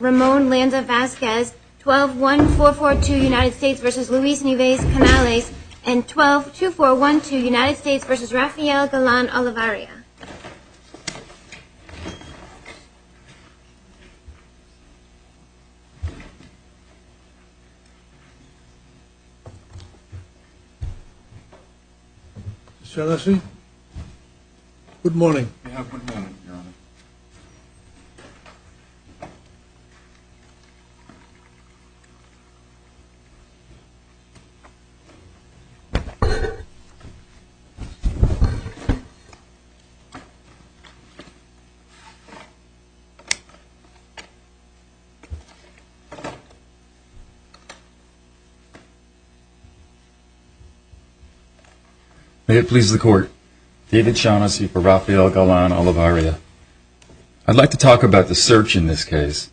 12-1-442 U.S. v. Luis Neves Canales and 12-2412 U.S. v. Rafael Galán Olivaria. Good morning. May it please the Court, David Shaughnessy v. Rafael Galán Olivaria, on behalf of the I'd like to talk about the search in this case.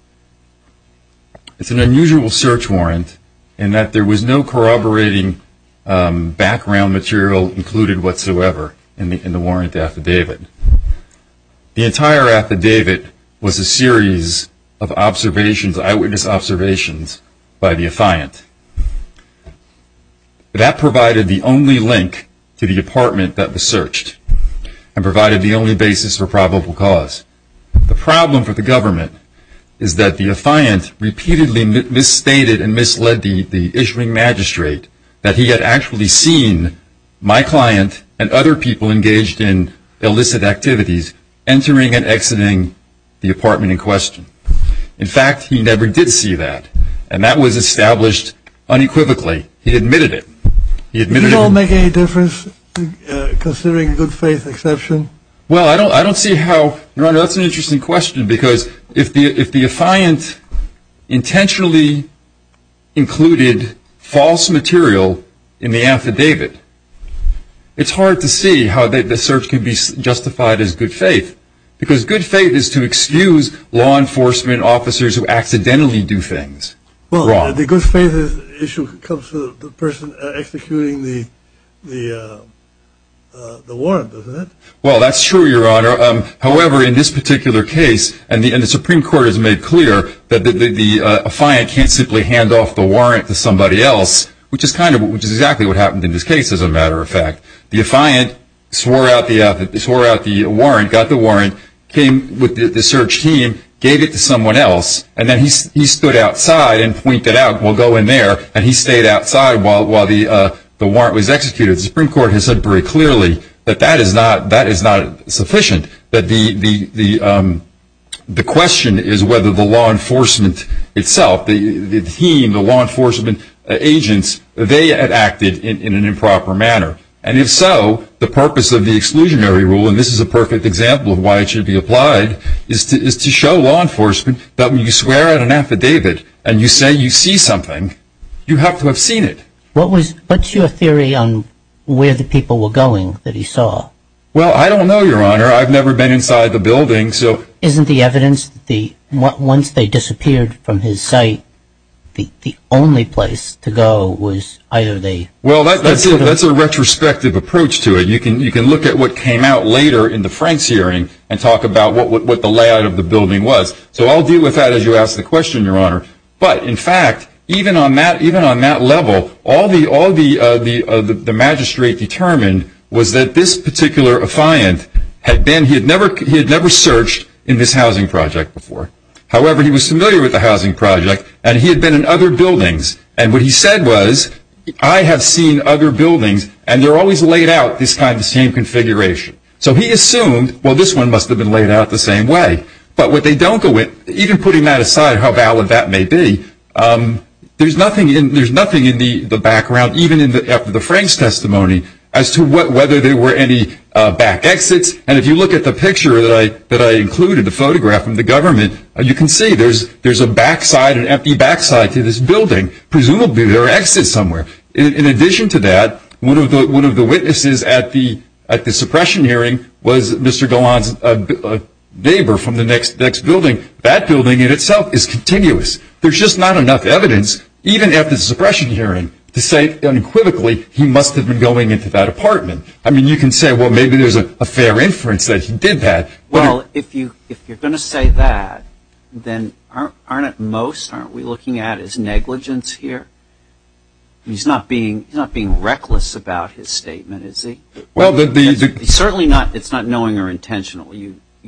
It's an unusual search warrant in that there was no corroborating background material included whatsoever in the warrant affidavit. The entire affidavit was a series of eyewitness observations by the affiant. That provided the only link to the apartment that was searched and provided the only basis for probable cause. The problem for the government is that the affiant repeatedly misstated and misled the issuing magistrate that he had actually seen my client and other people engaged in illicit activities entering and exiting the apartment in question. In fact, he never did see that. And that was established unequivocally. He admitted it. You don't make any difference considering a good faith exception? Well, I don't see how... Your Honor, that's an interesting question because if the affiant intentionally included false material in the affidavit, it's hard to see how the search can be justified as good faith. Because good faith is to excuse law enforcement officers who accidentally do things wrong. Well, the good faith issue comes from the person executing the warrant, doesn't it? Well, that's true, Your Honor. However, in this particular case, and the Supreme Court has made clear that the affiant can't simply hand off the warrant to somebody else, which is exactly what happened in this case, as a matter of fact. The affiant swore out the warrant, got the warrant, came with the search team, gave it to someone else, and then he stood outside and pointed out, we'll go in there, and he stayed outside while the warrant was executed. The Supreme Court has said very clearly that that is not sufficient. The question is whether the law enforcement itself, the team, the law enforcement agents, they had acted in an improper manner. And if so, the purpose of the exclusionary rule, and this is a perfect example of why it should be applied, is to show law enforcement that when you swear out an affidavit and you say you see something, you have to have seen it. What's your theory on where the people were going that he saw? Well, I don't know, Your Honor. I've never been inside the building. Isn't the evidence that once they disappeared from his sight, the only place to go was either the- Well, that's a retrospective approach to it. You can look at what came out later in the Franks hearing and talk about what the layout of the building was. So I'll deal with that as you ask the question, Your Honor. But, in fact, even on that level, all the magistrate determined was that this particular affiant had been, he had never searched in this housing project before. However, he was familiar with the housing project, and he had been in other buildings. And what he said was, I have seen other buildings, and they're always laid out this kind of same configuration. So he assumed, well, this one must have been laid out the same way. But what they don't go with, even putting that aside, how valid that may be, there's nothing in the background, even after the Franks testimony, as to whether there were any back exits. And if you look at the picture that I included, the photograph from the government, you can see there's a backside, an empty backside to this building. Presumably there are exits somewhere. In addition to that, one of the witnesses at the suppression hearing was Mr. Golan's neighbor from the next building. That building in itself is continuous. There's just not enough evidence, even at the suppression hearing, to say, unequivocally, he must have been going into that apartment. I mean, you can say, well, maybe there's a fair inference that he did that. Well, if you're going to say that, then aren't at most, aren't we looking at his negligence here? He's not being reckless about his statement, is he? Well, certainly it's not knowing or intentional.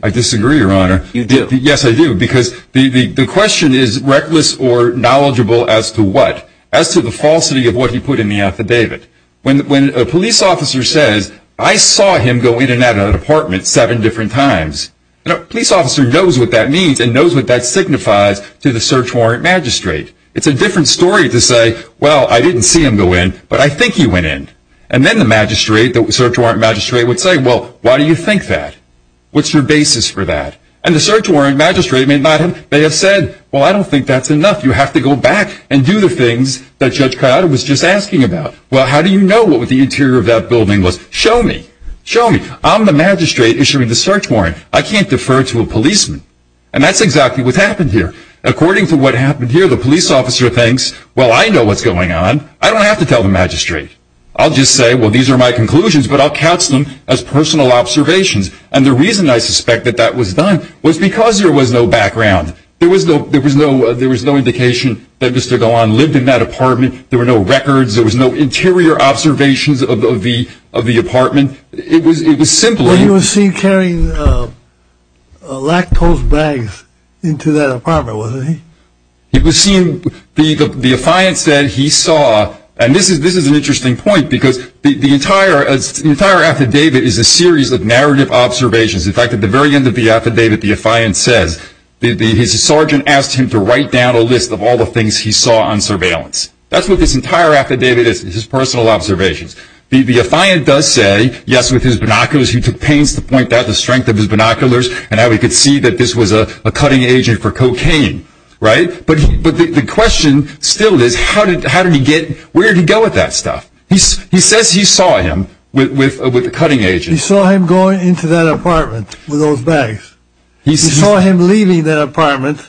I disagree, Your Honor. You do? Yes, I do, because the question is reckless or knowledgeable as to what? As to the falsity of what he put in the affidavit. When a police officer says, I saw him go in and out of an apartment seven different times, a police officer knows what that means and knows what that signifies to the search warrant magistrate. It's a different story to say, well, I didn't see him go in, but I think he went in. And then the search warrant magistrate would say, well, why do you think that? What's your basis for that? And the search warrant magistrate may have said, well, I don't think that's enough. You have to go back and do the things that Judge Coyote was just asking about. Well, how do you know what the interior of that building was? Show me. Show me. I'm the magistrate issuing the search warrant. I can't defer to a policeman. And that's exactly what's happened here. According to what happened here, the police officer thinks, well, I know what's going on. I don't have to tell the magistrate. I'll just say, well, these are my conclusions, but I'll counsel them as personal observations. And the reason I suspect that that was done was because there was no background. There was no indication that Mr. Galan lived in that apartment. There were no records. There was no interior observations of the apartment. It was simply – Well, he was seen carrying lactose bags into that apartment, wasn't he? He was seen – the affiant said he saw – and this is an interesting point, because the entire affidavit is a series of narrative observations. In fact, at the very end of the affidavit, the affiant says his sergeant asked him to write down a list of all the things he saw on surveillance. That's what this entire affidavit is, his personal observations. The affiant does say, yes, with his binoculars, he took pains to point out the strength of his binoculars and how he could see that this was a cutting agent for cocaine, right? But the question still is, how did he get – where did he go with that stuff? He says he saw him with a cutting agent. He saw him going into that apartment with those bags. He saw him leaving that apartment,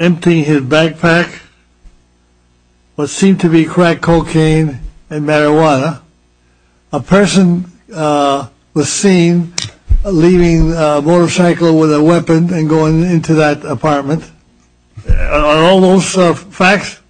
emptying his backpack, what seemed to be crack cocaine and marijuana. A person was seen leaving a motorcycle with a weapon and going into that apartment. Are all those facts?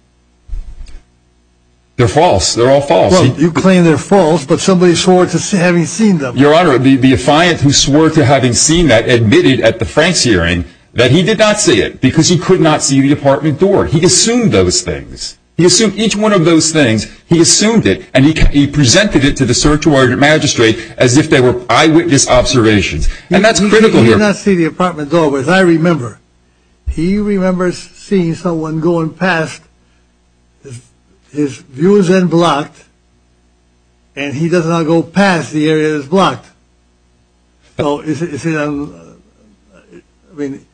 They're false. They're all false. Well, you claim they're false, but somebody swore to having seen them. Your Honor, the affiant who swore to having seen that admitted at the France hearing that he did not see it because he could not see the apartment door. He assumed those things. He assumed each one of those things. He assumed it, and he presented it to the sergeant magistrate as if they were eyewitness observations. And that's critical here. He did not see the apartment door, but I remember. He remembers seeing someone going past. His view was then blocked, and he does not go past the area that is blocked. So is it – I mean,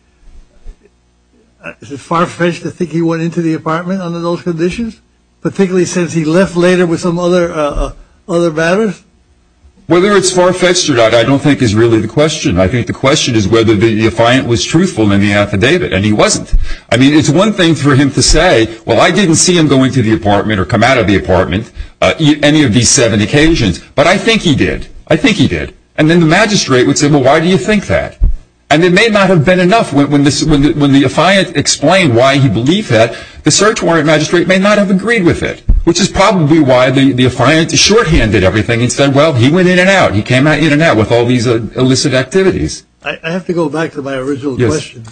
is it far-fetched to think he went into the apartment under those conditions, particularly since he left later with some other matters? Whether it's far-fetched or not I don't think is really the question. I think the question is whether the affiant was truthful in the affidavit, and he wasn't. I mean, it's one thing for him to say, well, I didn't see him going to the apartment or come out of the apartment on any of these seven occasions, but I think he did. I think he did. And then the magistrate would say, well, why do you think that? And it may not have been enough when the affiant explained why he believed that. The search warrant magistrate may not have agreed with it, which is probably why the affiant shorthanded everything and said, well, he went in and out. He came out of the Internet with all these illicit activities. I have to go back to my original question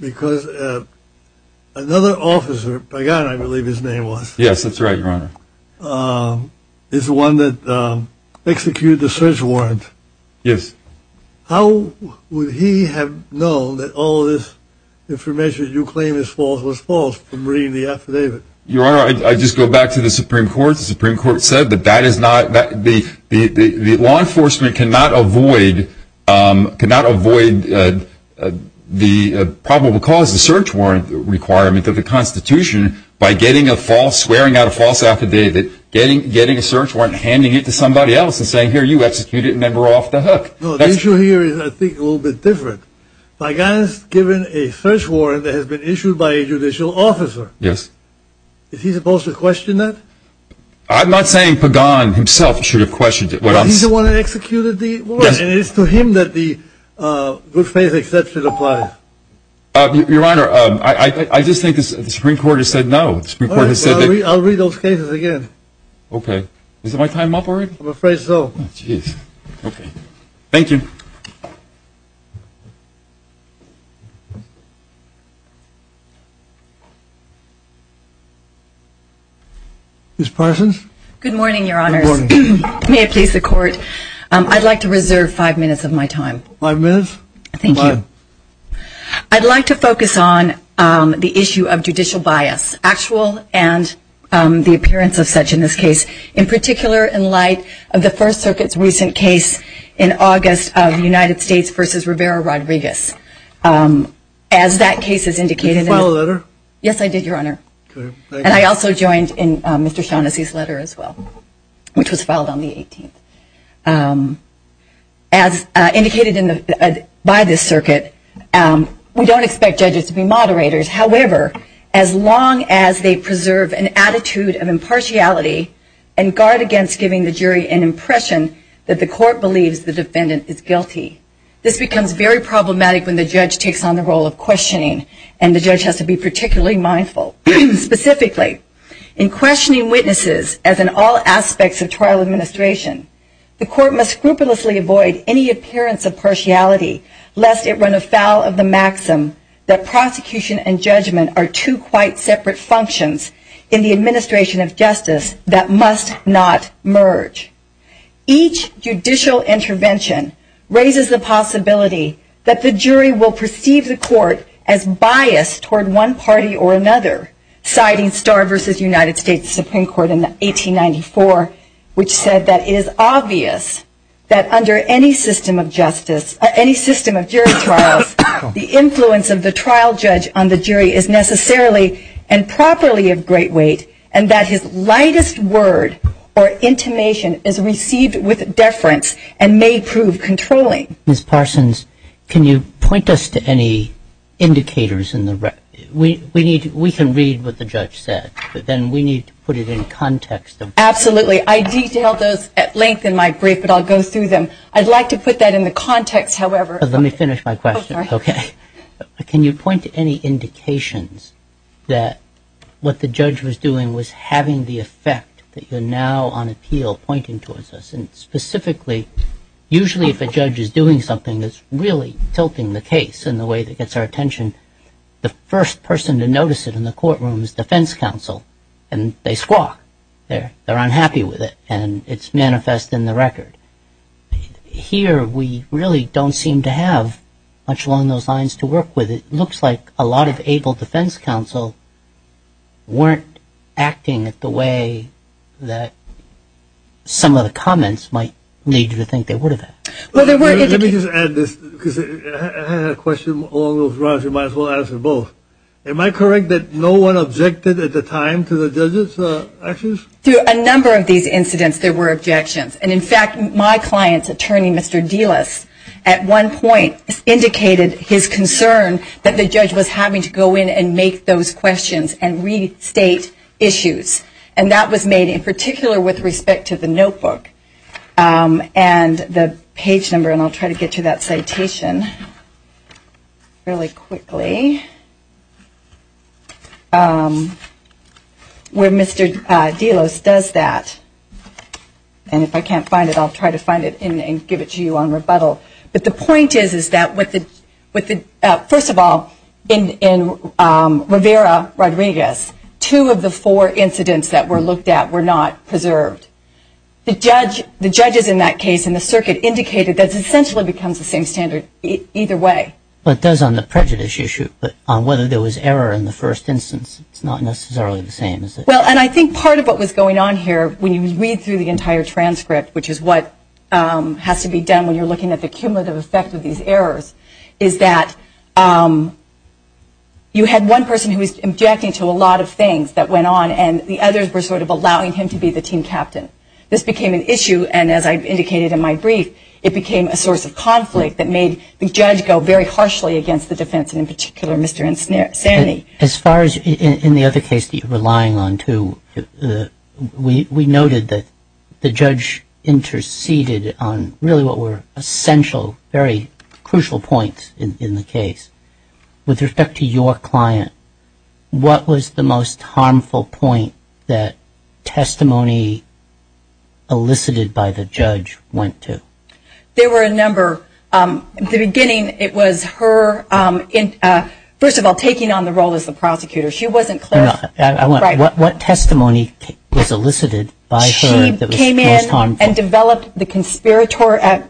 because another officer, by God, I believe his name was. Yes, that's right, Your Honor. It's the one that executed the search warrant. Yes. How would he have known that all this information you claim is false was false from reading the affidavit? Your Honor, I just go back to the Supreme Court. The Supreme Court said that the law enforcement cannot avoid the probable cause, the search warrant requirement of the Constitution by getting a false, swearing out a false affidavit, getting a search warrant, handing it to somebody else and saying, here, you executed a member off the hook. The issue here is, I think, a little bit different. A guy is given a search warrant that has been issued by a judicial officer. Yes. Is he supposed to question that? I'm not saying Pagan himself should have questioned it. Well, he's the one that executed the warrant. Yes. And it is to him that the good faith exception applies. Your Honor, I just think the Supreme Court has said no. I'll read those cases again. Okay. Is my time up already? I'm afraid so. Okay. Thank you. Ms. Parsons? Good morning, Your Honors. Good morning. May it please the Court, I'd like to reserve five minutes of my time. Five minutes? Thank you. Go ahead. I'd like to focus on the issue of judicial bias, actual and the appearance of such in this case, in particular in light of the First Circuit's recent case in August of United States v. Rivera-Rodriguez. As that case has indicated in the Did you file a letter? Yes, I did, Your Honor. And I also joined in Mr. Shaughnessy's letter as well, which was filed on the 18th. As indicated by this circuit, we don't expect judges to be moderators. However, as long as they preserve an attitude of impartiality and guard against giving the jury an impression that the court believes the defendant is guilty. This becomes very problematic when the judge takes on the role of questioning, and the judge has to be particularly mindful. Specifically, in questioning witnesses as in all aspects of trial administration, the court must scrupulously avoid any separate functions in the administration of justice that must not merge. Each judicial intervention raises the possibility that the jury will perceive the court as biased toward one party or another, citing Starr v. United States Supreme Court in 1894, which said that it is obvious that under any system of justice, any system of jury trials, the influence of the trial judge on the jury is necessarily and properly of great weight. And that his lightest word or intimation is received with deference and may prove controlling. Ms. Parsons, can you point us to any indicators in the record? We can read what the judge said, but then we need to put it in context. Absolutely. I detail those at length in my brief, but I'll go through them. I'd like to put that in the context, however. Let me finish my question. Okay. Can you point to any indications that what the judge was doing was having the effect that you're now on appeal pointing towards us? And specifically, usually if a judge is doing something that's really tilting the case in the way that gets our attention, the first person to notice it in the courtroom is defense counsel, and they squawk. They're unhappy with it, and it's manifest in the record. Here, we really don't seem to have much along those lines to work with. It looks like a lot of able defense counsel weren't acting the way that some of the comments might lead you to think they would have acted. Let me just add this, because I had a question along those lines. You might as well answer both. Am I correct that no one objected at the time to the judge's actions? Through a number of these incidents, there were objections. And, in fact, my client's attorney, Mr. Delos, at one point indicated his concern that the judge was having to go in and make those questions and restate issues, and that was made in particular with respect to the notebook and the page number, and I'll try to get to that citation really quickly, where Mr. Delos does that. And if I can't find it, I'll try to find it and give it to you on rebuttal. But the point is that, first of all, in Rivera-Rodriguez, two of the four incidents that were looked at were not preserved. The judges in that case in the circuit indicated that it essentially becomes the same standard either way. But it does on the prejudice issue. But on whether there was error in the first instance, it's not necessarily the same, is it? Well, and I think part of what was going on here, when you read through the entire transcript, which is what has to be done when you're looking at the cumulative effect of these errors, is that you had one person who was objecting to a lot of things that went on, and the others were sort of allowing him to be the team captain. This became an issue, and as I indicated in my brief, it became a source of conflict that made the judge go very harshly against the defense, and in particular Mr. Insani. As far as in the other case that you're relying on, too, we noted that the judge interceded on really what were essential, very crucial points in the case. With respect to your client, what was the most harmful point that testimony elicited by the judge went to? There were a number. In the beginning, it was her, first of all, taking on the role as the prosecutor. She wasn't clear. What testimony was elicited by her that was most harmful? She came in and developed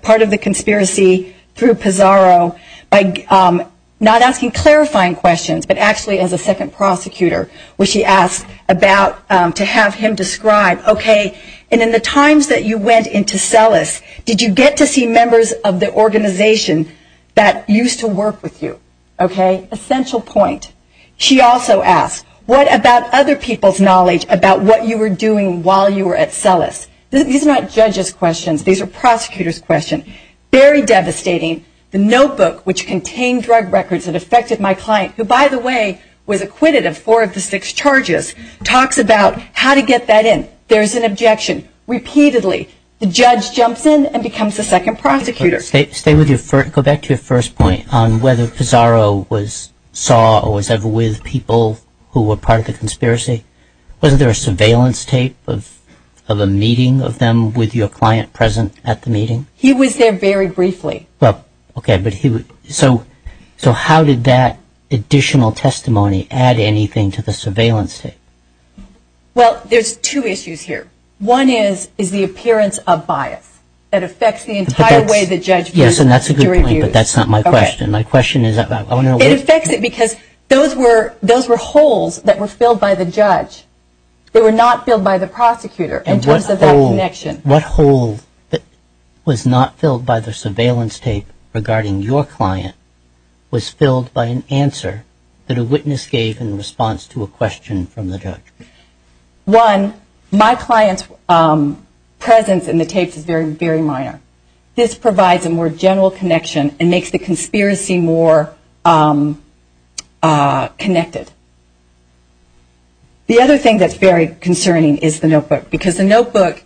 part of the conspiracy through Pizarro by not asking clarifying questions, but actually as a second prosecutor, which she asked about to have him describe, okay, and in the times that you went into CELUS, did you get to see members of the organization that used to work with you? Okay? Essential point. She also asked, what about other people's knowledge about what you were doing while you were at CELUS? These are not judges' questions. These are prosecutors' questions. Very devastating. The notebook, which contained drug records that affected my client, who, by the way, was acquitted of four of the six charges, talks about how to get that in. There's an objection. Repeatedly, the judge jumps in and becomes the second prosecutor. Go back to your first point on whether Pizarro saw or was ever with people who were part of the conspiracy. Wasn't there a surveillance tape of a meeting of them with your client present at the meeting? He was there very briefly. Okay. So how did that additional testimony add anything to the surveillance tape? Well, there's two issues here. One is the appearance of bias that affects the entire way the judge views jury reviews. Yes, and that's a good point, but that's not my question. It affects it because those were holes that were filled by the judge. They were not filled by the prosecutor in terms of that connection. What hole that was not filled by the surveillance tape regarding your client was filled by an answer that a witness gave in response to a question from the judge. One, my client's presence in the tapes is very, very minor. This provides a more general connection and makes the conspiracy more connected. The other thing that's very concerning is the notebook, because the notebook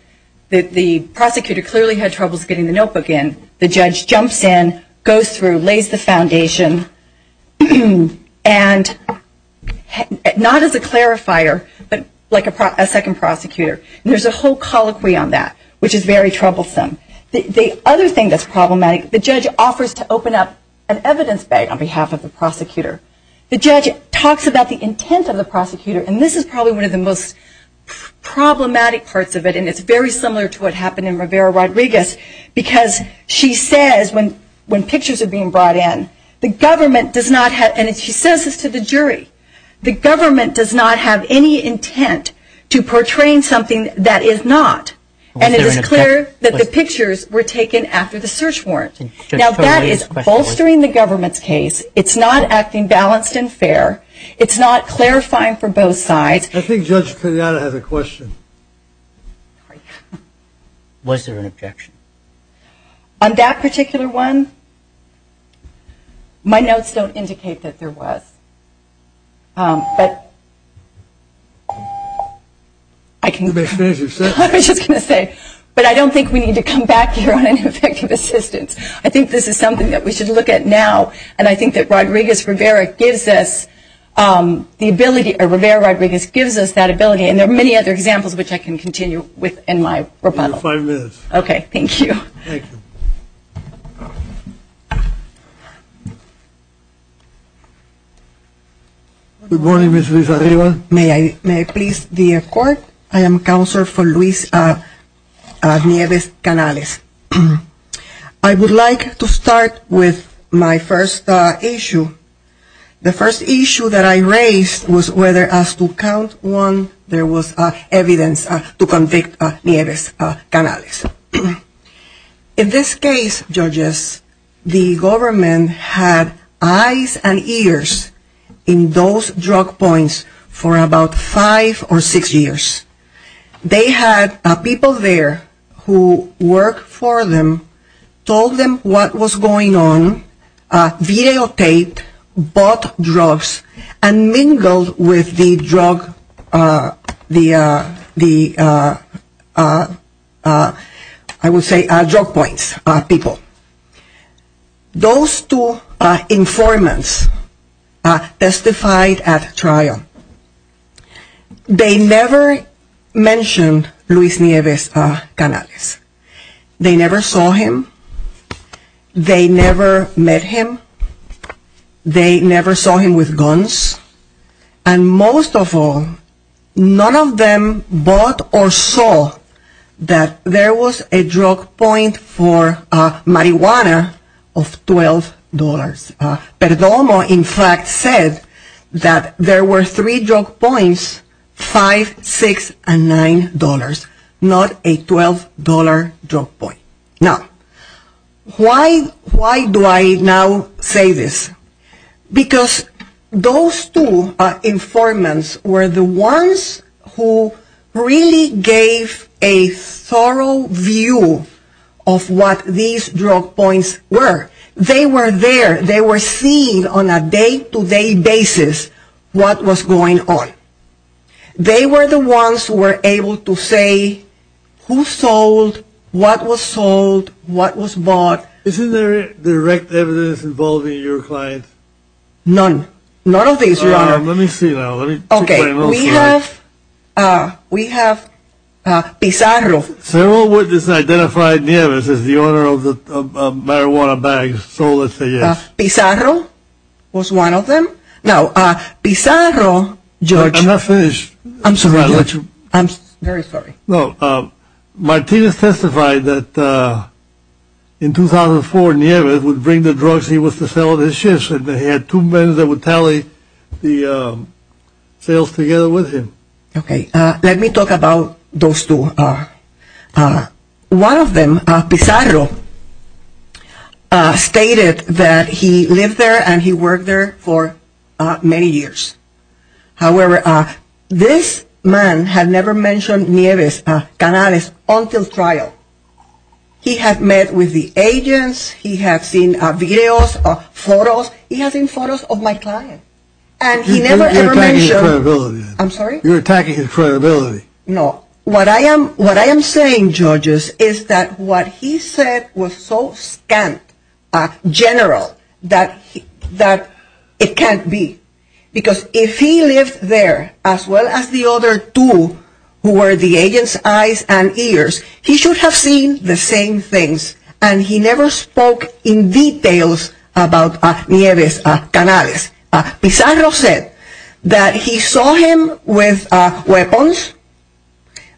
that the prosecutor clearly had troubles getting the notebook in, the judge jumps in, goes through, lays the foundation, and not as a clarifier, but like a second prosecutor. There's a whole colloquy on that, which is very troublesome. The other thing that's problematic, the judge offers to open up an evidence bag on behalf of the prosecutor. The judge talks about the intent of the prosecutor, and this is probably one of the most problematic parts of it, and it's very similar to what happened in Rivera Rodriguez, because she says when pictures are being brought in, the government does not have, and she says this to the jury, the government does not have any intent to portraying something that is not. And it is clear that the pictures were taken after the search warrant. Now that is bolstering the government's case. It's not acting balanced and fair. It's not clarifying for both sides. I think Judge Kenyatta has a question. Was there an objection? On that particular one, my notes don't indicate that there was. But I was just going to say, but I don't think we need to come back here on ineffective assistance. I think this is something that we should look at now, and I think that Rodriguez-Rivera gives us the ability, or Rivera Rodriguez gives us that ability, and there are many other examples which I can continue with in my rebuttal. You have five minutes. Okay, thank you. Thank you. Good morning, Ms. Rivas-Arriba. May I please the court? I am Counselor for Luis Nieves Canales. I would like to start with my first issue. The first issue that I raised was whether as to count one there was evidence to convict Nieves Canales. In this case, judges, the government had eyes and ears in those drug points for about five or six years. They had people there who worked for them, told them what was going on, videotaped, bought drugs, and mingled with the drug points people. Those two informants testified at trial. They never mentioned Luis Nieves Canales. They never saw him. They never met him. They never saw him with guns. And most of all, none of them bought or saw that there was a drug point for marijuana of $12. Perdomo, in fact, said that there were three drug points, five, six, and nine dollars, not a $12 drug point. Now, why do I now say this? Because those two informants were the ones who really gave a thorough view of what these drug points were. They were there. They were seeing on a day-to-day basis what was going on. They were the ones who were able to say who sold, what was sold, what was bought. Isn't there direct evidence involving your client? None. None of these are. Let me see now. Okay. We have Pizarro. Several witnesses identified Nieves as the owner of the marijuana bags. So let's say yes. Pizarro was one of them. Now, Pizarro, George. I'm not finished. I'm sorry, George. I'm very sorry. No. Martinez testified that in 2004, Nieves would bring the drugs he was to sell on his shift. He had two men that would tally the sales together with him. Okay. Let me talk about those two. One of them, Pizarro, stated that he lived there and he worked there for many years. However, this man had never mentioned Nieves, Canales, until trial. He had met with the agents. He had seen videos, photos. He has seen photos of my client. You're attacking his credibility. I'm sorry? You're attacking his credibility. No. What I am saying, George, is that what he said was so scant, general, that it can't be. Because if he lived there, as well as the other two who were the agents' eyes and ears, he should have seen the same things. And he never spoke in details about Nieves, Canales. Pizarro said that he saw him with weapons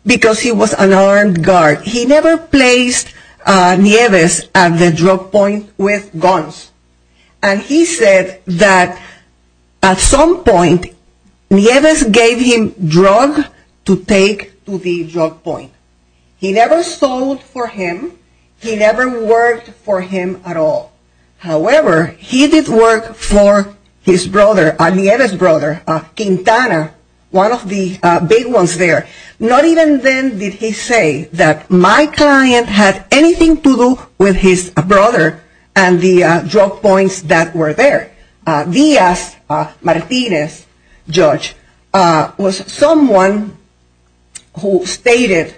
because he was an armed guard. He never placed Nieves at the drug point with guns. And he said that at some point, Nieves gave him drugs to take to the drug point. He never sold for him. He never worked for him at all. However, he did work for his brother, Nieves' brother, Quintana, one of the big ones there. Not even then did he say that my client had anything to do with his brother and the drug points that were there. Diaz, Martinez, George, was someone who stated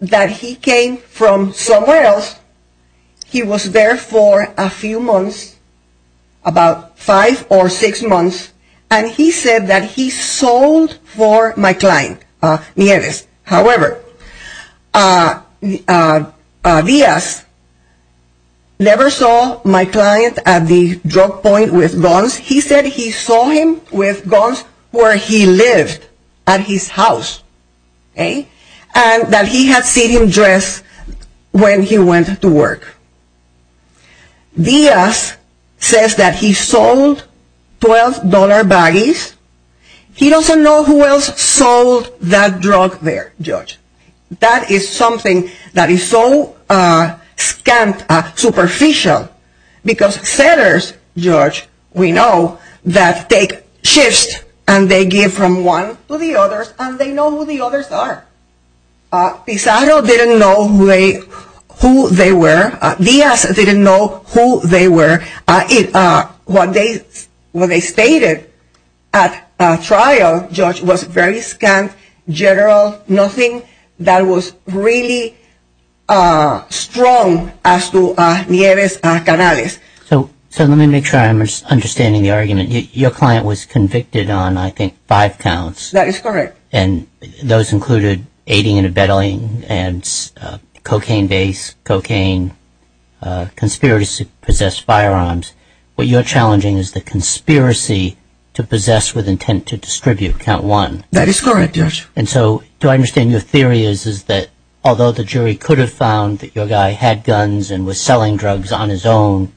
that he came from somewhere else. He was there for a few months, about five or six months, and he said that he sold for my client, Nieves. However, Diaz never saw my client at the drug point with guns. He said he saw him with guns where he lived, at his house. And that he had seen him dress when he went to work. Diaz says that he sold $12 baggies. He doesn't know who else sold that drug there, George. That is something that is so scant, superficial, because sellers, George, we know, that take shifts, and they give from one to the others, and they know who the others are. Pizarro didn't know who they were. Diaz didn't know who they were. What they stated at trial, George, was very scant, general, nothing that was really strong as to Nieves Canales. So let me make sure I'm understanding the argument. Your client was convicted on, I think, five counts. That is correct. And those included aiding and abetting and cocaine-based, cocaine, conspiracy-possessed firearms. What you're challenging is the conspiracy to possess with intent to distribute, count one. That is correct, George. And so do I understand your theory is that although the jury could have found that your guy had guns and was selling drugs on his own,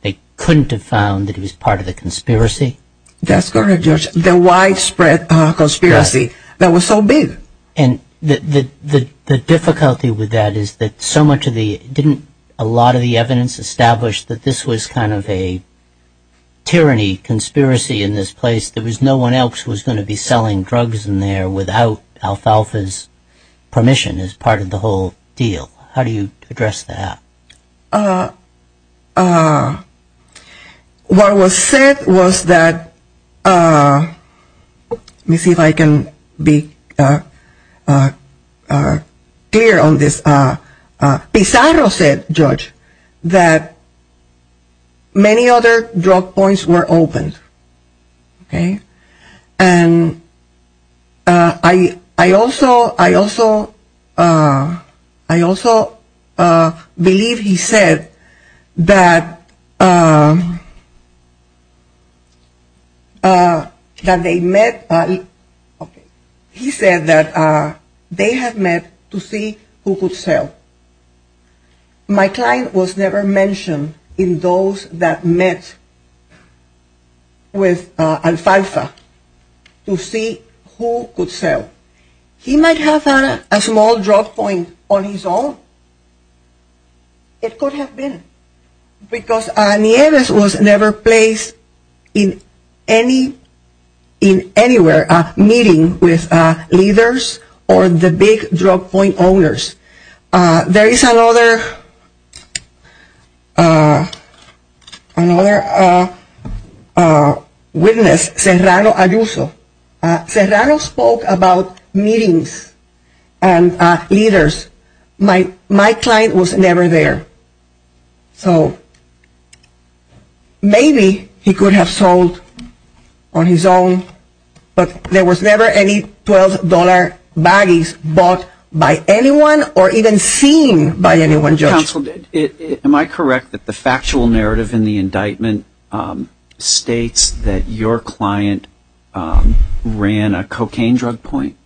they couldn't have found that he was part of the conspiracy? That's correct, George. The widespread conspiracy that was so big. And the difficulty with that is that so much of the, didn't a lot of the evidence establish that this was kind of a tyranny, conspiracy in this place? There was no one else who was going to be selling drugs in there without Alfalfa's permission as part of the whole deal. How do you address that? Well, what was said was that, let me see if I can be clear on this. Pizarro said, George, that many other drug points were opened. Okay. And I also, I also, I also believe he said that, that they met, he said that they had met to see who could sell. My client was never mentioned in those that met with Alfalfa to see who could sell. He might have had a small drug point on his own. It could have been because Nieves was never placed in any, in anywhere, meeting with leaders or the big drug point owners. There is another witness, Serrano Ayuso. Serrano spoke about meetings and leaders. My client was never there. So maybe he could have sold on his own, but there was never any $12 baggies bought by anyone or even seen by anyone, George. Counsel, am I correct that the factual narrative in the indictment states that your client ran a cocaine drug point?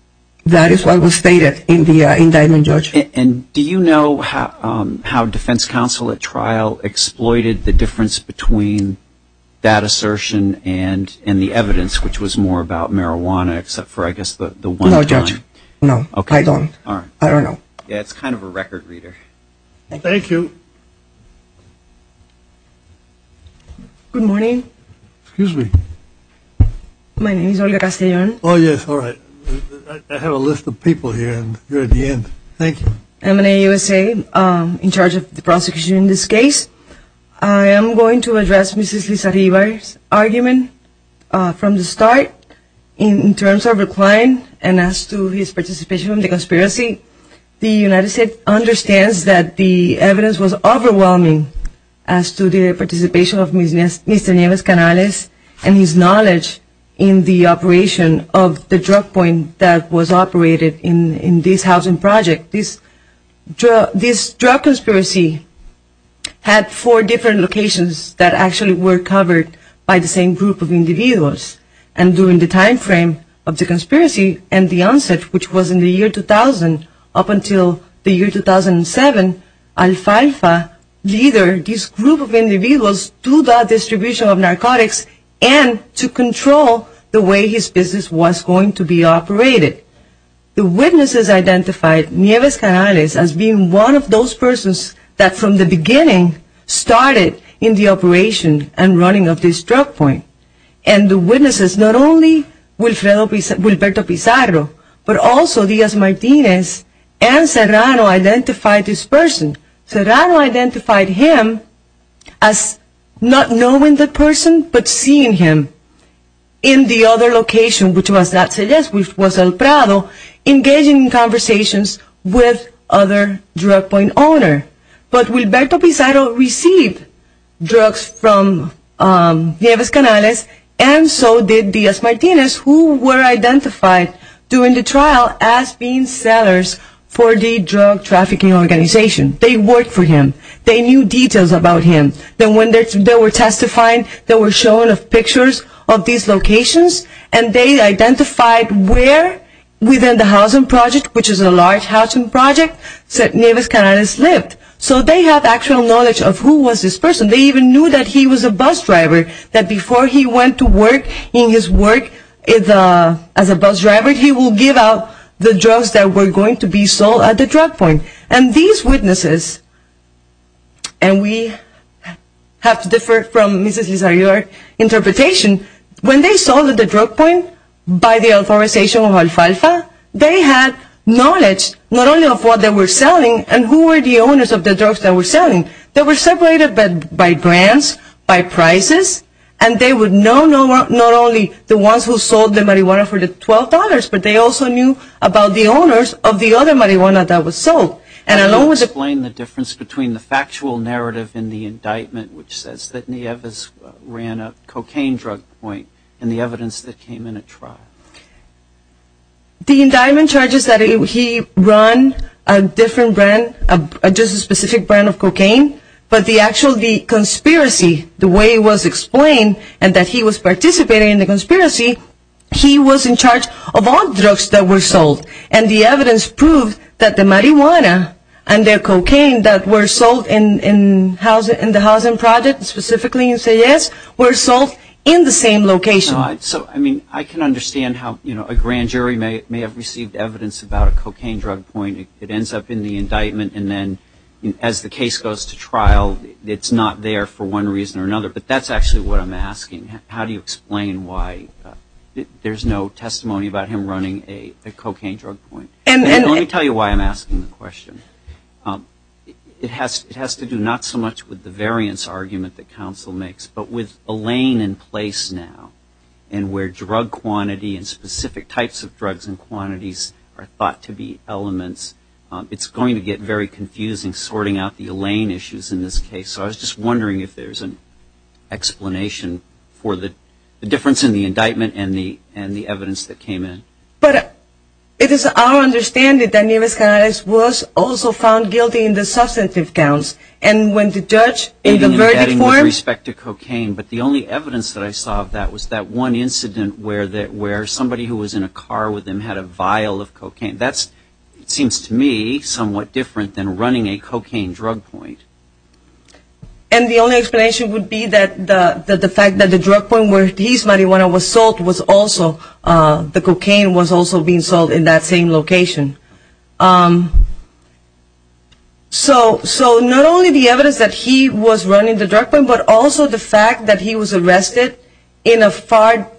That is what was stated in the indictment, George. And do you know how defense counsel at trial exploited the difference between that assertion and the evidence, which was more about marijuana except for, I guess, the one time? No, Judge. No, I don't. All right. I don't know. Yeah, it's kind of a record reader. Thank you. Good morning. Excuse me. My name is Olga Castellon. Oh, yes. All right. I have a list of people here, and you're at the end. Thank you. I'm an AUSA in charge of the prosecution in this case. I am going to address Mrs. Liz Arriba's argument from the start. In terms of her client and as to his participation in the conspiracy, the United States understands that the evidence was overwhelming as to the participation of Mr. Nieves Canales and his knowledge in the operation of the drug point that was operated in this housing project. This drug conspiracy had four different locations that actually were covered by the same group of individuals. And during the time frame of the conspiracy and the onset, which was in the year 2000 up until the year 2007, Al Falfa led this group of individuals to the distribution of narcotics and to control the way his business was going to be operated. The witnesses identified Nieves Canales as being one of those persons that, from the beginning, started in the operation and running of this drug point. And the witnesses, not only Wilberto Pizarro, but also Diaz-Martinez and Serrano identified this person. Serrano identified him as not knowing the person but seeing him in the other location, which was El Prado, engaging in conversations with other drug point owners. But Wilberto Pizarro received drugs from Nieves Canales and so did Diaz-Martinez, who were identified during the trial as being sellers for the drug trafficking organization. They worked for him. They knew details about him. Then when they were testifying, they were shown pictures of these locations and they identified where, within the housing project, which is a large housing project, Nieves Canales lived. So they have actual knowledge of who was this person. They even knew that he was a bus driver, that before he went to work in his work as a bus driver, he would give out the drugs that were going to be sold at the drug point. And these witnesses, and we have to differ from Mrs. Lizarrior's interpretation, when they sold at the drug point, by the authorization of Alfalfa, they had knowledge not only of what they were selling and who were the owners of the drugs they were selling. They were separated by brands, by prices, and they would know not only the ones who sold the marijuana for the $12, but they also knew about the owners of the other marijuana that was sold. And I don't want to explain the difference between the factual narrative in the indictment, which says that Nieves ran a cocaine drug point, and the evidence that came in at trial. The indictment charges that he ran a different brand, just a specific brand of cocaine, but the actual conspiracy, the way it was explained, and that he was participating in the conspiracy, he was in charge of all drugs that were sold. And the evidence proved that the marijuana and the cocaine that were sold in the housing project, specifically in CES, were sold in the same location. So, I mean, I can understand how a grand jury may have received evidence about a cocaine drug point. It ends up in the indictment, and then as the case goes to trial, it's not there for one reason or another. But that's actually what I'm asking. How do you explain why there's no testimony about him running a cocaine drug point? And let me tell you why I'm asking the question. It has to do not so much with the variance argument that counsel makes, but with Elaine in place now, and where drug quantity and specific types of drugs and quantities are thought to be elements, it's going to get very confusing sorting out the Elaine issues in this case. So I was just wondering if there's an explanation for the difference in the indictment and the evidence that came in. But it is our understanding that Nieves-Canales was also found guilty in the substantive counts, and when the judge in the verdict form... In the indictment with respect to cocaine, but the only evidence that I saw of that was that one incident where somebody who was in a car with him had a vial of cocaine. That seems to me somewhat different than running a cocaine drug point. And the only explanation would be that the fact that the drug point where he's marijuana was sold was also, the cocaine was also being sold in that same location. So not only the evidence that he was running the drug point, but also the fact that he was arrested in a far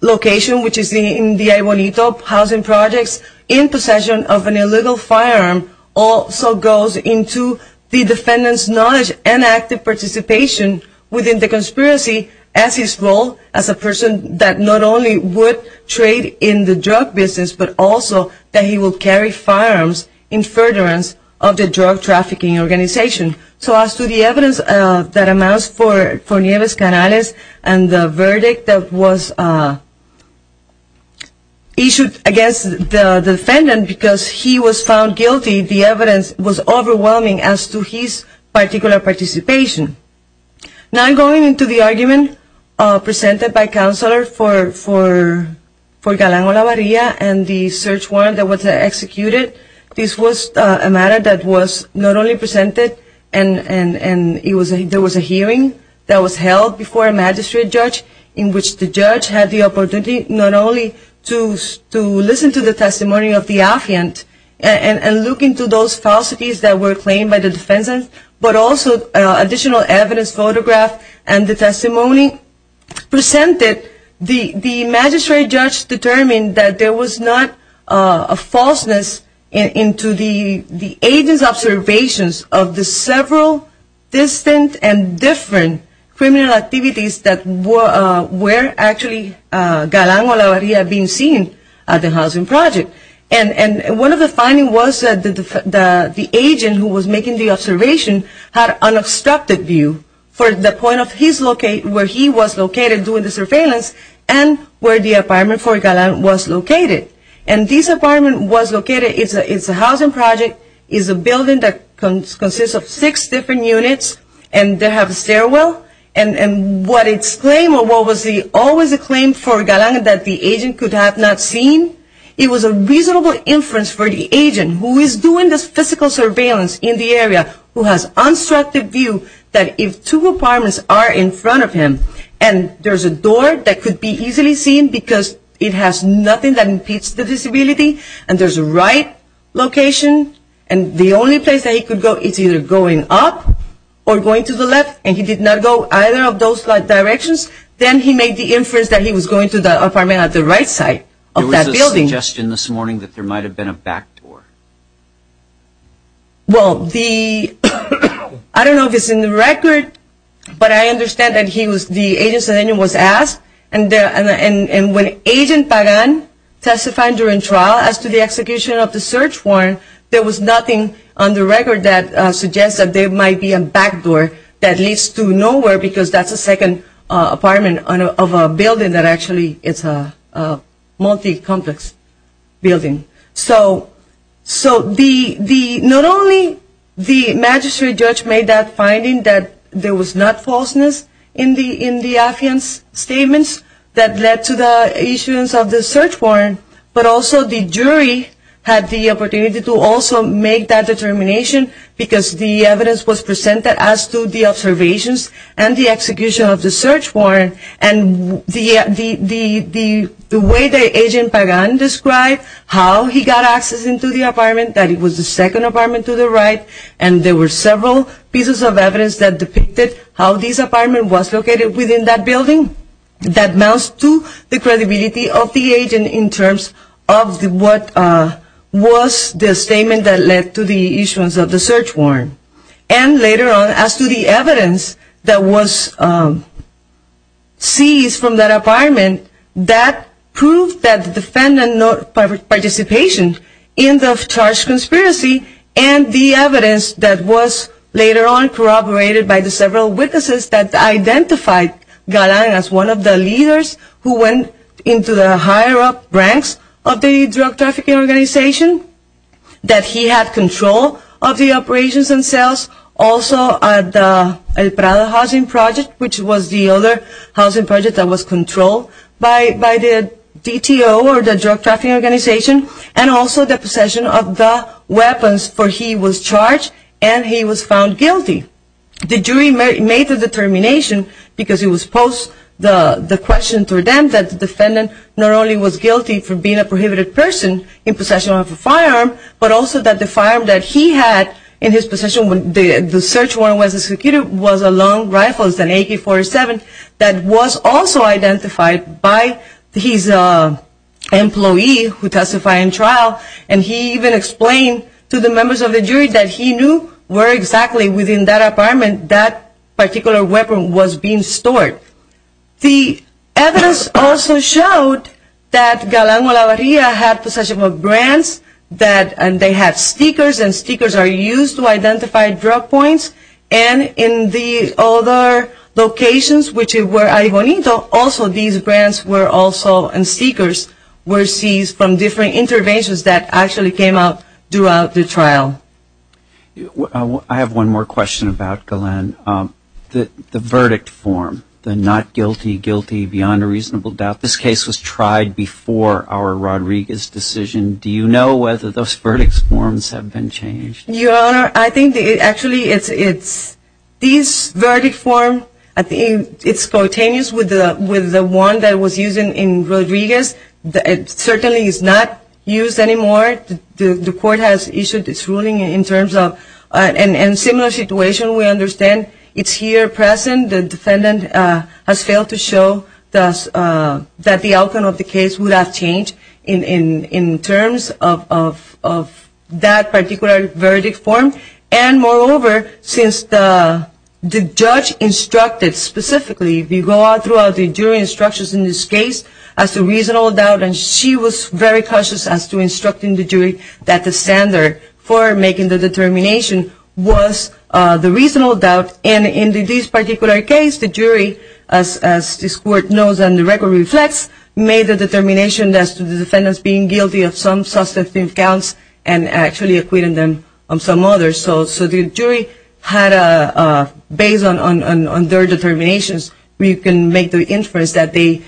location, which is in the Aybonito housing projects, in possession of an illegal firearm, also goes into the defendant's knowledge and active participation within the conspiracy as his role, as a person that not only would trade in the drug business, but also that he would carry firearms in furtherance of the drug trafficking organization. So as to the evidence that amounts for Nieves-Canales and the verdict that was issued against the defendant because he was found guilty, the evidence was overwhelming as to his particular participation. Now I'm going into the argument presented by counselor for Galán Olavarria and the search warrant that was executed. This was a matter that was not only presented and there was a hearing that was held before a magistrate judge in which the judge had the opportunity not only to listen to the testimony of the affiant and look into those falsities that were claimed by the defendant, but also additional evidence photographed and the testimony presented. The magistrate judge determined that there was not a falseness into the agent's observations of the several distant and different criminal activities that were actually Galán Olavarria being seen at the housing project. And one of the findings was that the agent who was making the observation had an obstructed view for the point where he was located during the surveillance and where the apartment for Galán was located. And this apartment was located, it's a housing project, it's a building that consists of six different units and they have a stairwell. And what its claim or what was always the claim for Galán that the agent could have not seen, it was a reasonable inference for the agent who is doing this physical surveillance in the area who has an obstructed view that if two apartments are in front of him and there's a door that could be easily seen because it has nothing that impedes the disability and there's a right location and the only place that he could go is either going up or going to the left and he did not go either of those directions, then he made the inference that he was going to the apartment at the right side of that building. There was a suggestion this morning that there might have been a back door. Well, the, I don't know if it's in the record, but I understand that he was, the agent was asked and when agent Galán testified during trial as to the execution of the search warrant, there was nothing on the record that suggests that there might be a back door that leads to nowhere because that's a second apartment of a building that actually is a multi-complex building. So the, not only the magistrate judge made that finding that there was not falseness in the affiance statements that led to the issuance of the search warrant, but also the jury had the opportunity to also make that determination because the evidence was presented as to the observations and the execution of the search warrant and the way that agent Galán described how he got access into the apartment, that it was the second apartment to the right and there were several pieces of evidence that depicted how this apartment was located within that building that amounts to the credibility of the agent in terms of what was the statement that led to the issuance of the search warrant. And later on as to the evidence that was seized from that apartment that proved that the defendant's participation in the charged conspiracy and the evidence that was later on corroborated by the several witnesses that identified Galán as one of the leaders who went into the higher up ranks of the drug trafficking organization, that he had control of the operations themselves, also at the El Prado housing project which was the other housing project that was controlled by the DTO or the drug trafficking organization, and also the possession of the weapons for he was charged and he was found guilty. The jury made the determination because it was posed the question to them that the defendant not only was guilty for being a prohibited person in possession of a firearm but also that the firearm that he had in his possession when the search warrant was executed was a long rifle, an AK-47 that was also identified by his employee who testified in trial and he even explained to the members of the jury that he knew where exactly within that apartment that particular weapon was being stored. The evidence also showed that Galán Molavarria had possession of brands and they had stickers and stickers are used to identify drug points and in the other locations which were Arribonito also these brands were also and stickers were seized from different interventions that actually came out throughout the trial. I have one more question about Galán. The verdict form, the not guilty, guilty, beyond a reasonable doubt, this case was tried before our Rodriguez decision. Do you know whether those verdict forms have been changed? Your Honor, I think actually it's this verdict form, I think it's spontaneous with the one that was used in Rodriguez. It certainly is not used anymore. The court has issued this ruling in terms of a similar situation. We understand it's here present. The defendant has failed to show that the outcome of the case would have changed in terms of that particular verdict form and moreover since the judge instructed specifically throughout the jury instructions in this case as to reasonable doubt and she was very cautious as to instructing the jury that the standard for making the determination was the reasonable doubt and in this particular case the jury, as this court knows and the record reflects, made the determination as to the defendants being guilty of some substantive counts and actually acquitting them of some others. So the jury had a base on their determinations. We can make the inference that they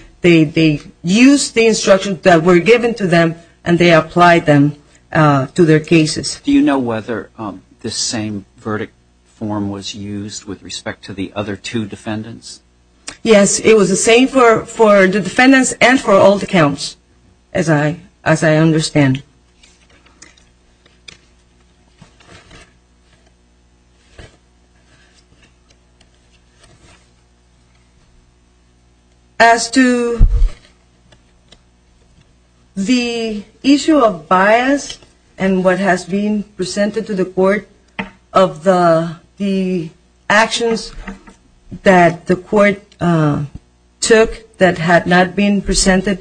used the instructions that were given to them and they applied them to their cases. Do you know whether this same verdict form was used with respect to the other two defendants? Yes, it was the same for the defendants and for all the counts as I understand. As to the issue of bias and what has been presented to the court of the actions that the court took that had not been presented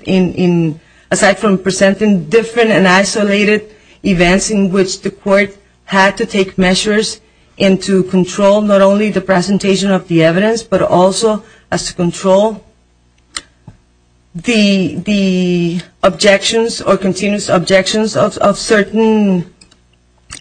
aside from presenting different and isolated events in which the court had to take measures and to control not only the presentation of the evidence but also as to control the objections or continuous objections of certain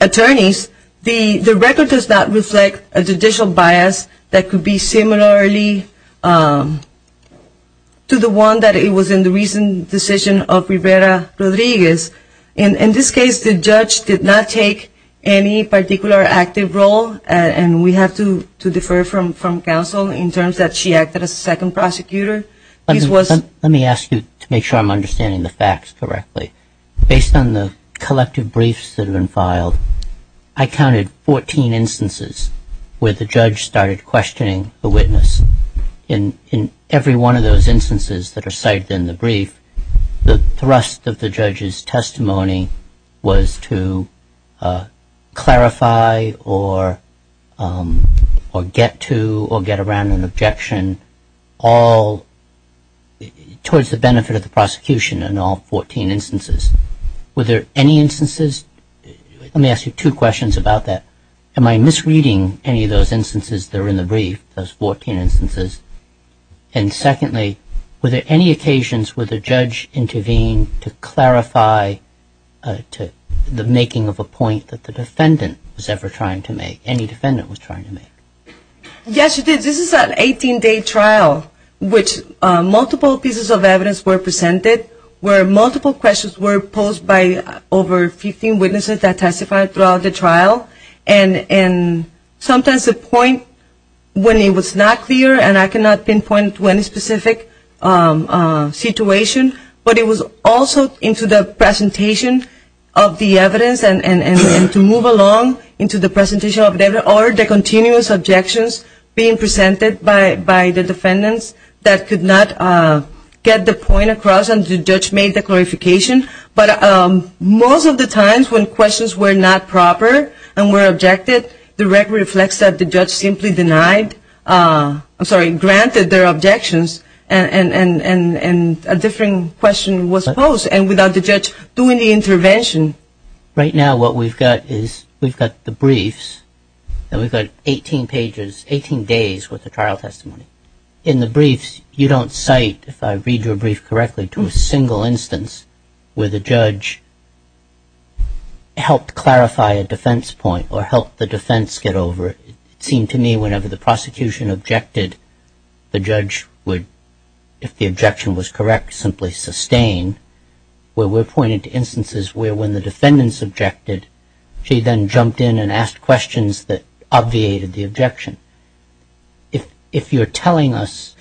attorneys, the record does not reflect a judicial bias that could be similarly to the one that it was in the recent decision of Rivera-Rodriguez. In this case the judge did not take any particular active role and we have to defer from counsel in terms that she acted as a second prosecutor. Let me ask you to make sure I'm understanding the facts correctly. Based on the collective briefs that have been filed, I counted 14 instances where the judge started questioning the witness. In every one of those instances that are cited in the brief, the thrust of the judge's testimony was to clarify or get to or get around an objection all towards the benefit of the prosecution in all 14 instances. Were there any instances? Let me ask you two questions about that. Am I misreading any of those instances that are in the brief, those 14 instances? And secondly, were there any occasions where the judge intervened to clarify the making of a point that the defendant was ever trying to make, any defendant was trying to make? Yes, she did. This is an 18-day trial which multiple pieces of evidence were presented where multiple questions were posed by over 15 witnesses that testified throughout the trial. And sometimes the point when it was not clear, and I cannot pinpoint to any specific situation, but it was also into the presentation of the evidence and to move along into the presentation of the evidence or the continuous objections being presented by the defendants that could not get the point across and the judge made the clarification. But most of the times when questions were not proper and were objected, the record reflects that the judge simply denied, I'm sorry, granted their objections and a different question was posed and without the judge doing the intervention. Right now what we've got is we've got the briefs and we've got 18 pages, 18 days worth of trial testimony. And in the briefs you don't cite, if I read your brief correctly, to a single instance where the judge helped clarify a defense point or helped the defense get over. It seemed to me whenever the prosecution objected, the judge would, if the objection was correct, simply sustain where we're pointing to instances where when the defendants objected, she then jumped in and asked questions that obviated the objection. If you're telling us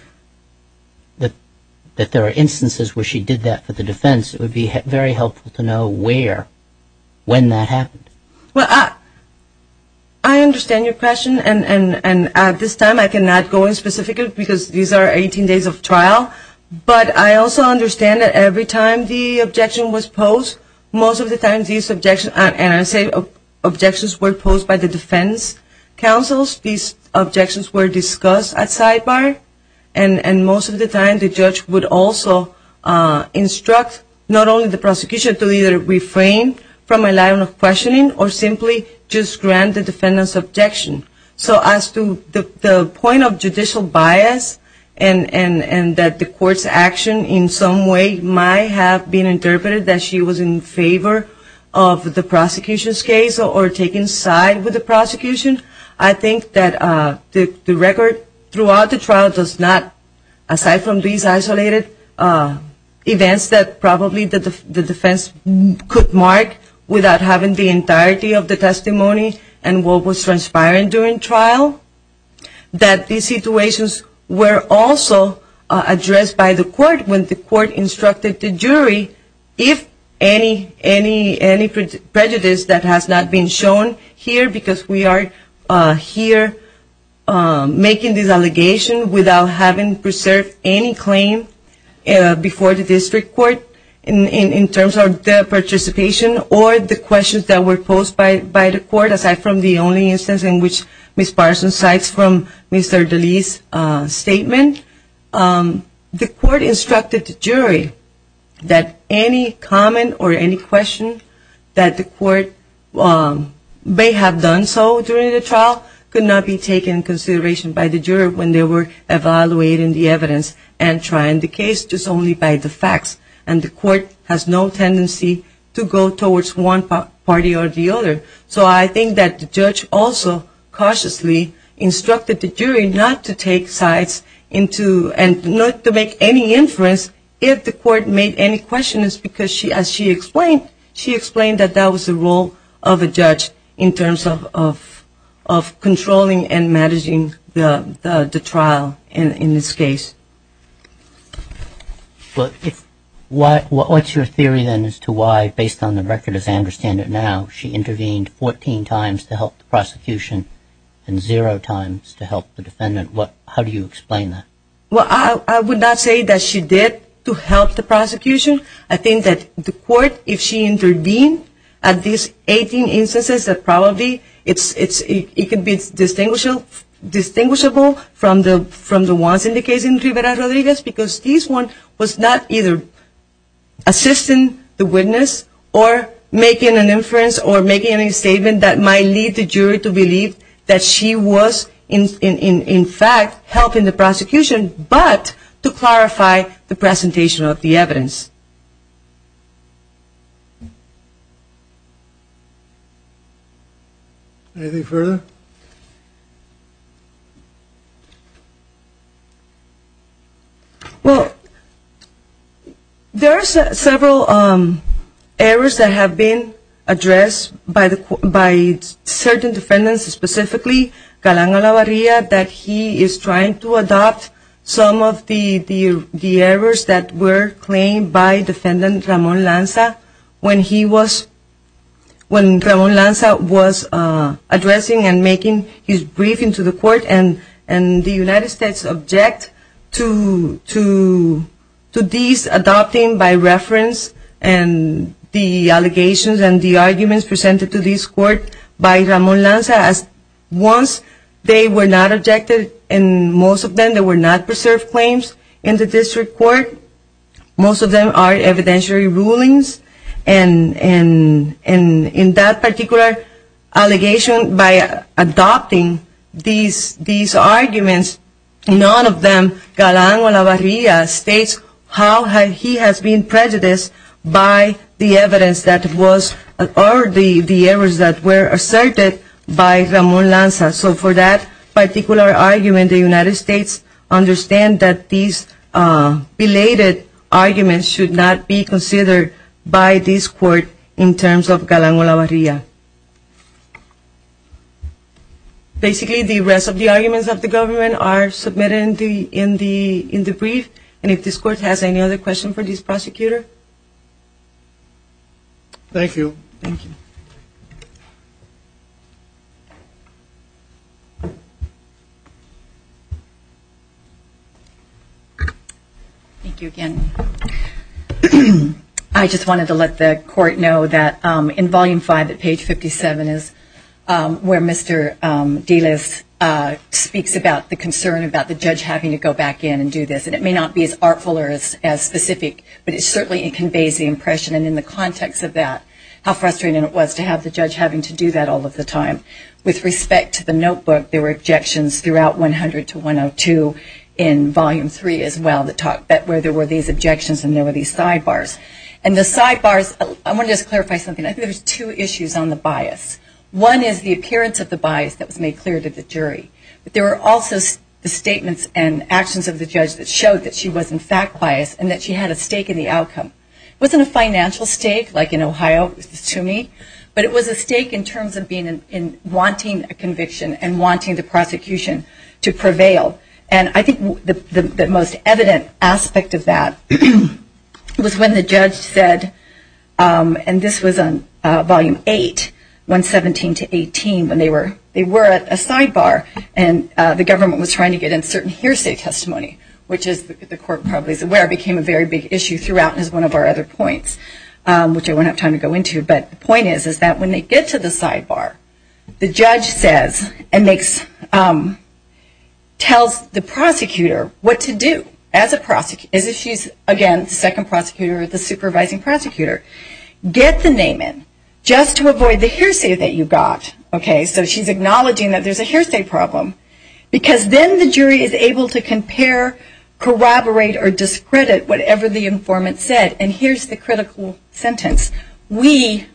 that there are instances where she did that for the defense, it would be very helpful to know where, when that happened. Well, I understand your question and at this time I cannot go in specifically because these are 18 days of trial, but I also understand that every time the objection was posed, most of the times these objections, and I say objections were posed by the defense counsels, these objections were discussed at sidebar. And most of the time the judge would also instruct not only the prosecution to either refrain from a line of questioning or simply just grant the defendant's objection. So as to the point of judicial bias and that the court's action in some way might have been interpreted that she was in favor of the prosecution's case or taking side with the prosecution, I think that the record throughout the trial does not, aside from these isolated events that probably the defense could mark without having the entirety of the testimony and what was transpiring during trial, that these situations were also addressed by the court when the court instructed the jury if any prejudice that has not been shown here, because we are here making this allegation without having preserved any claim before the district court in terms of the participation or the questions that were posed by the court, aside from the only instance in which Ms. Parson cites from Mr. DeLee's statement, the court instructed the jury that any comment or any question that the court may have done so during the trial could not be taken into consideration by the jury when they were evaluating the evidence and trying the case just only by the facts. And the court has no tendency to go towards one party or the other. So I think that the judge also cautiously instructed the jury not to take sides and not to make any inference if the court made any questions, because as she explained, she explained that that was the role of a judge in terms of controlling and managing the trial in this case. What's your theory then as to why, based on the record as I understand it now, she intervened 14 times to help the prosecution and zero times to help the defendant? How do you explain that? Well, I would not say that she did to help the prosecution. I think that the court, if she intervened at these 18 instances, that probably it could be distinguishable from the ones in the case in Rivera-Rodriguez, because this one was not either assisting the witness or making an inference or making a statement that might lead the jury to believe that she was, in fact, helping the prosecution, but to clarify the presentation of the evidence. Anything further? Well, there are several errors that have been addressed by certain defendants, specifically Calanga-Lavarria, that he is trying to adopt some of the errors that were claimed by defendant Ramon Lanza, when Ramon Lanza was addressing and making his briefing to the court, and the United States objected to these adopting by reference and the allegations and the arguments presented to this court by Ramon Lanza, as defendants. Once they were not objected, and most of them were not preserved claims in the district court, most of them are evidentiary rulings, and in that particular allegation, by adopting these arguments, none of them, Calanga-Lavarria states how he has been prejudiced by the evidence that was, or the errors that were asserted by Ramon Lanza. So for that particular argument, the United States understands that these belated arguments should not be considered by this court in terms of Calanga-Lavarria. Basically, the rest of the arguments of the government are submitted in the brief, and if this court has any other questions for this prosecutor? Thank you. Thank you again. I just wanted to let the court know that in volume five at page 57 is where Mr. Delis speaks about the concern about the judge having to go back in and do this, and it may not be as artful or as specific, but it certainly is a concern. It conveys the impression, and in the context of that, how frustrating it was to have the judge having to do that all of the time. With respect to the notebook, there were objections throughout 100 to 102 in volume three as well, where there were these objections and there were these sidebars. And the sidebars, I want to just clarify something. I think there's two issues on the bias. One is the appearance of the bias that was made clear to the jury, but there were also the statements and actions of the judge that showed that she was in fact biased and that she had a stake in the outcome. It wasn't a financial stake, like in Ohio, to me, but it was a stake in terms of wanting a conviction and wanting the prosecution to prevail. And I think the most evident aspect of that was when the judge said, and this was on volume eight, once again, that she had a stake in the outcome. And then in volume 17 to 18, when they were at a sidebar and the government was trying to get in certain hearsay testimony, which the court probably is aware became a very big issue throughout as one of our other points, which I won't have time to go into. But the point is that when they get to the sidebar, the judge says and tells the prosecutor what to do as a prosecutor, as if she's, again, the second prosecutor or the supervising prosecutor. Get the name in, just to avoid the hearsay that you got. Okay, so she's acknowledging that there's a hearsay problem, because then the jury is able to compare, corroborate, or discredit whatever the informant said. And here's the critical sentence, we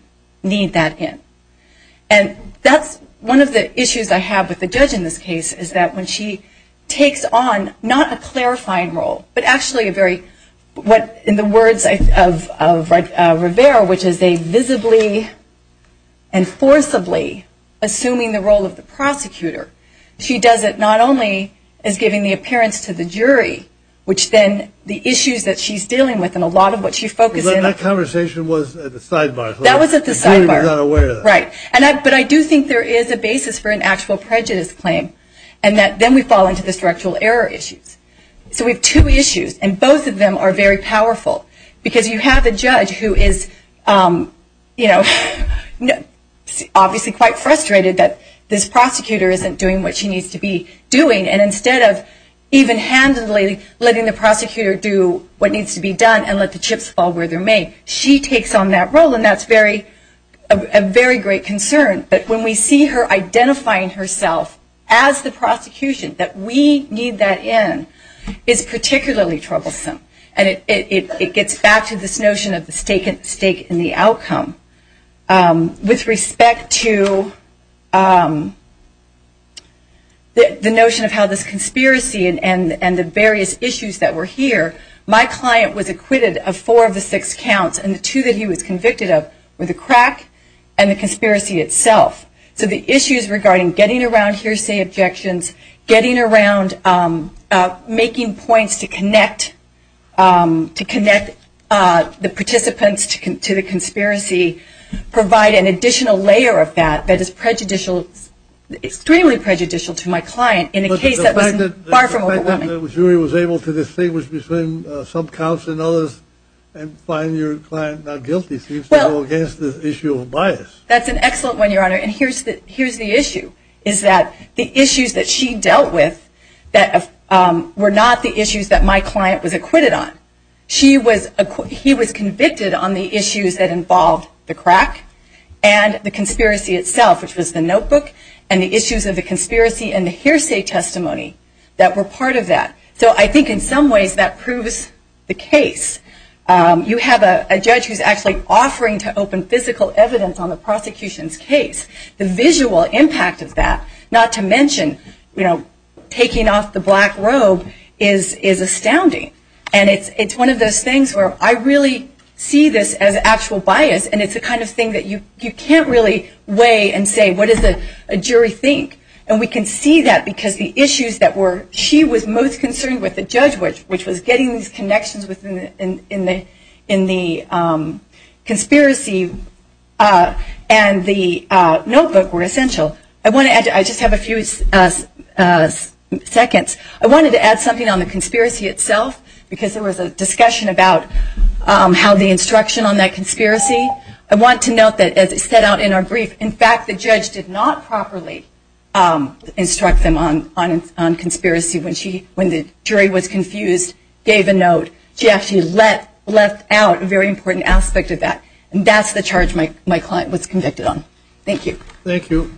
need that in. And that's one of the issues I have with the judge in this case, is that when she takes on not a clarifying role, but actually a very, what in the words of my colleague, Daniel Rivera, which is a visibly and forcibly assuming the role of the prosecutor, she does it not only as giving the appearance to the jury, which then the issues that she's dealing with and a lot of what she focuses on. That conversation was at the sidebar. That was at the sidebar, right. But I do think there is a basis for an actual prejudice claim, and then we fall into the structural error issues. And I think she's, you know, obviously quite frustrated that this prosecutor isn't doing what she needs to be doing, and instead of even handedly letting the prosecutor do what needs to be done and let the chips fall where they may, she takes on that role, and that's a very great concern. But when we see her identifying herself as the prosecution, that we need that in, is particularly troublesome. And it gets back to this notion of the stake in the outcome. With respect to the notion of how this conspiracy and the various issues that were here, my client was acquitted of four of the six counts, and the two that he was convicted of were the crack and the conspiracy itself. So the issues regarding getting around hearsay objections, getting around making points to connect, that's a big issue. To connect the participants to the conspiracy, provide an additional layer of that that is prejudicial, extremely prejudicial to my client in a case that was far from overwhelming. The fact that the jury was able to distinguish between some counts and others and find your client not guilty seems to go against the issue of bias. That's an excellent one, Your Honor, and here's the issue, is that the issues that she dealt with were not the issues that my client was acquitted of. She was, he was convicted on the issues that involved the crack and the conspiracy itself, which was the notebook, and the issues of the conspiracy and the hearsay testimony that were part of that. So I think in some ways that proves the case. You have a judge who's actually offering to open physical evidence on the prosecution's case. The visual impact of that, not to mention, you know, taking off the black robe, is astounding. And it's one of those things where I really see this as actual bias, and it's the kind of thing that you can't really weigh and say, what does the jury think? And we can see that because the issues that were, she was most concerned with the judge, which was getting these connections in the conspiracy and the notebook were essential. I want to add, I just have a few seconds, I wanted to add something on the conspiracy itself. Because there was a discussion about how the instruction on that conspiracy. I want to note that as it set out in our brief, in fact, the judge did not properly instruct them on conspiracy when she, when the jury was confused, gave a note. She actually left out a very important aspect of that, and that's the charge my client was convicted on. Thank you.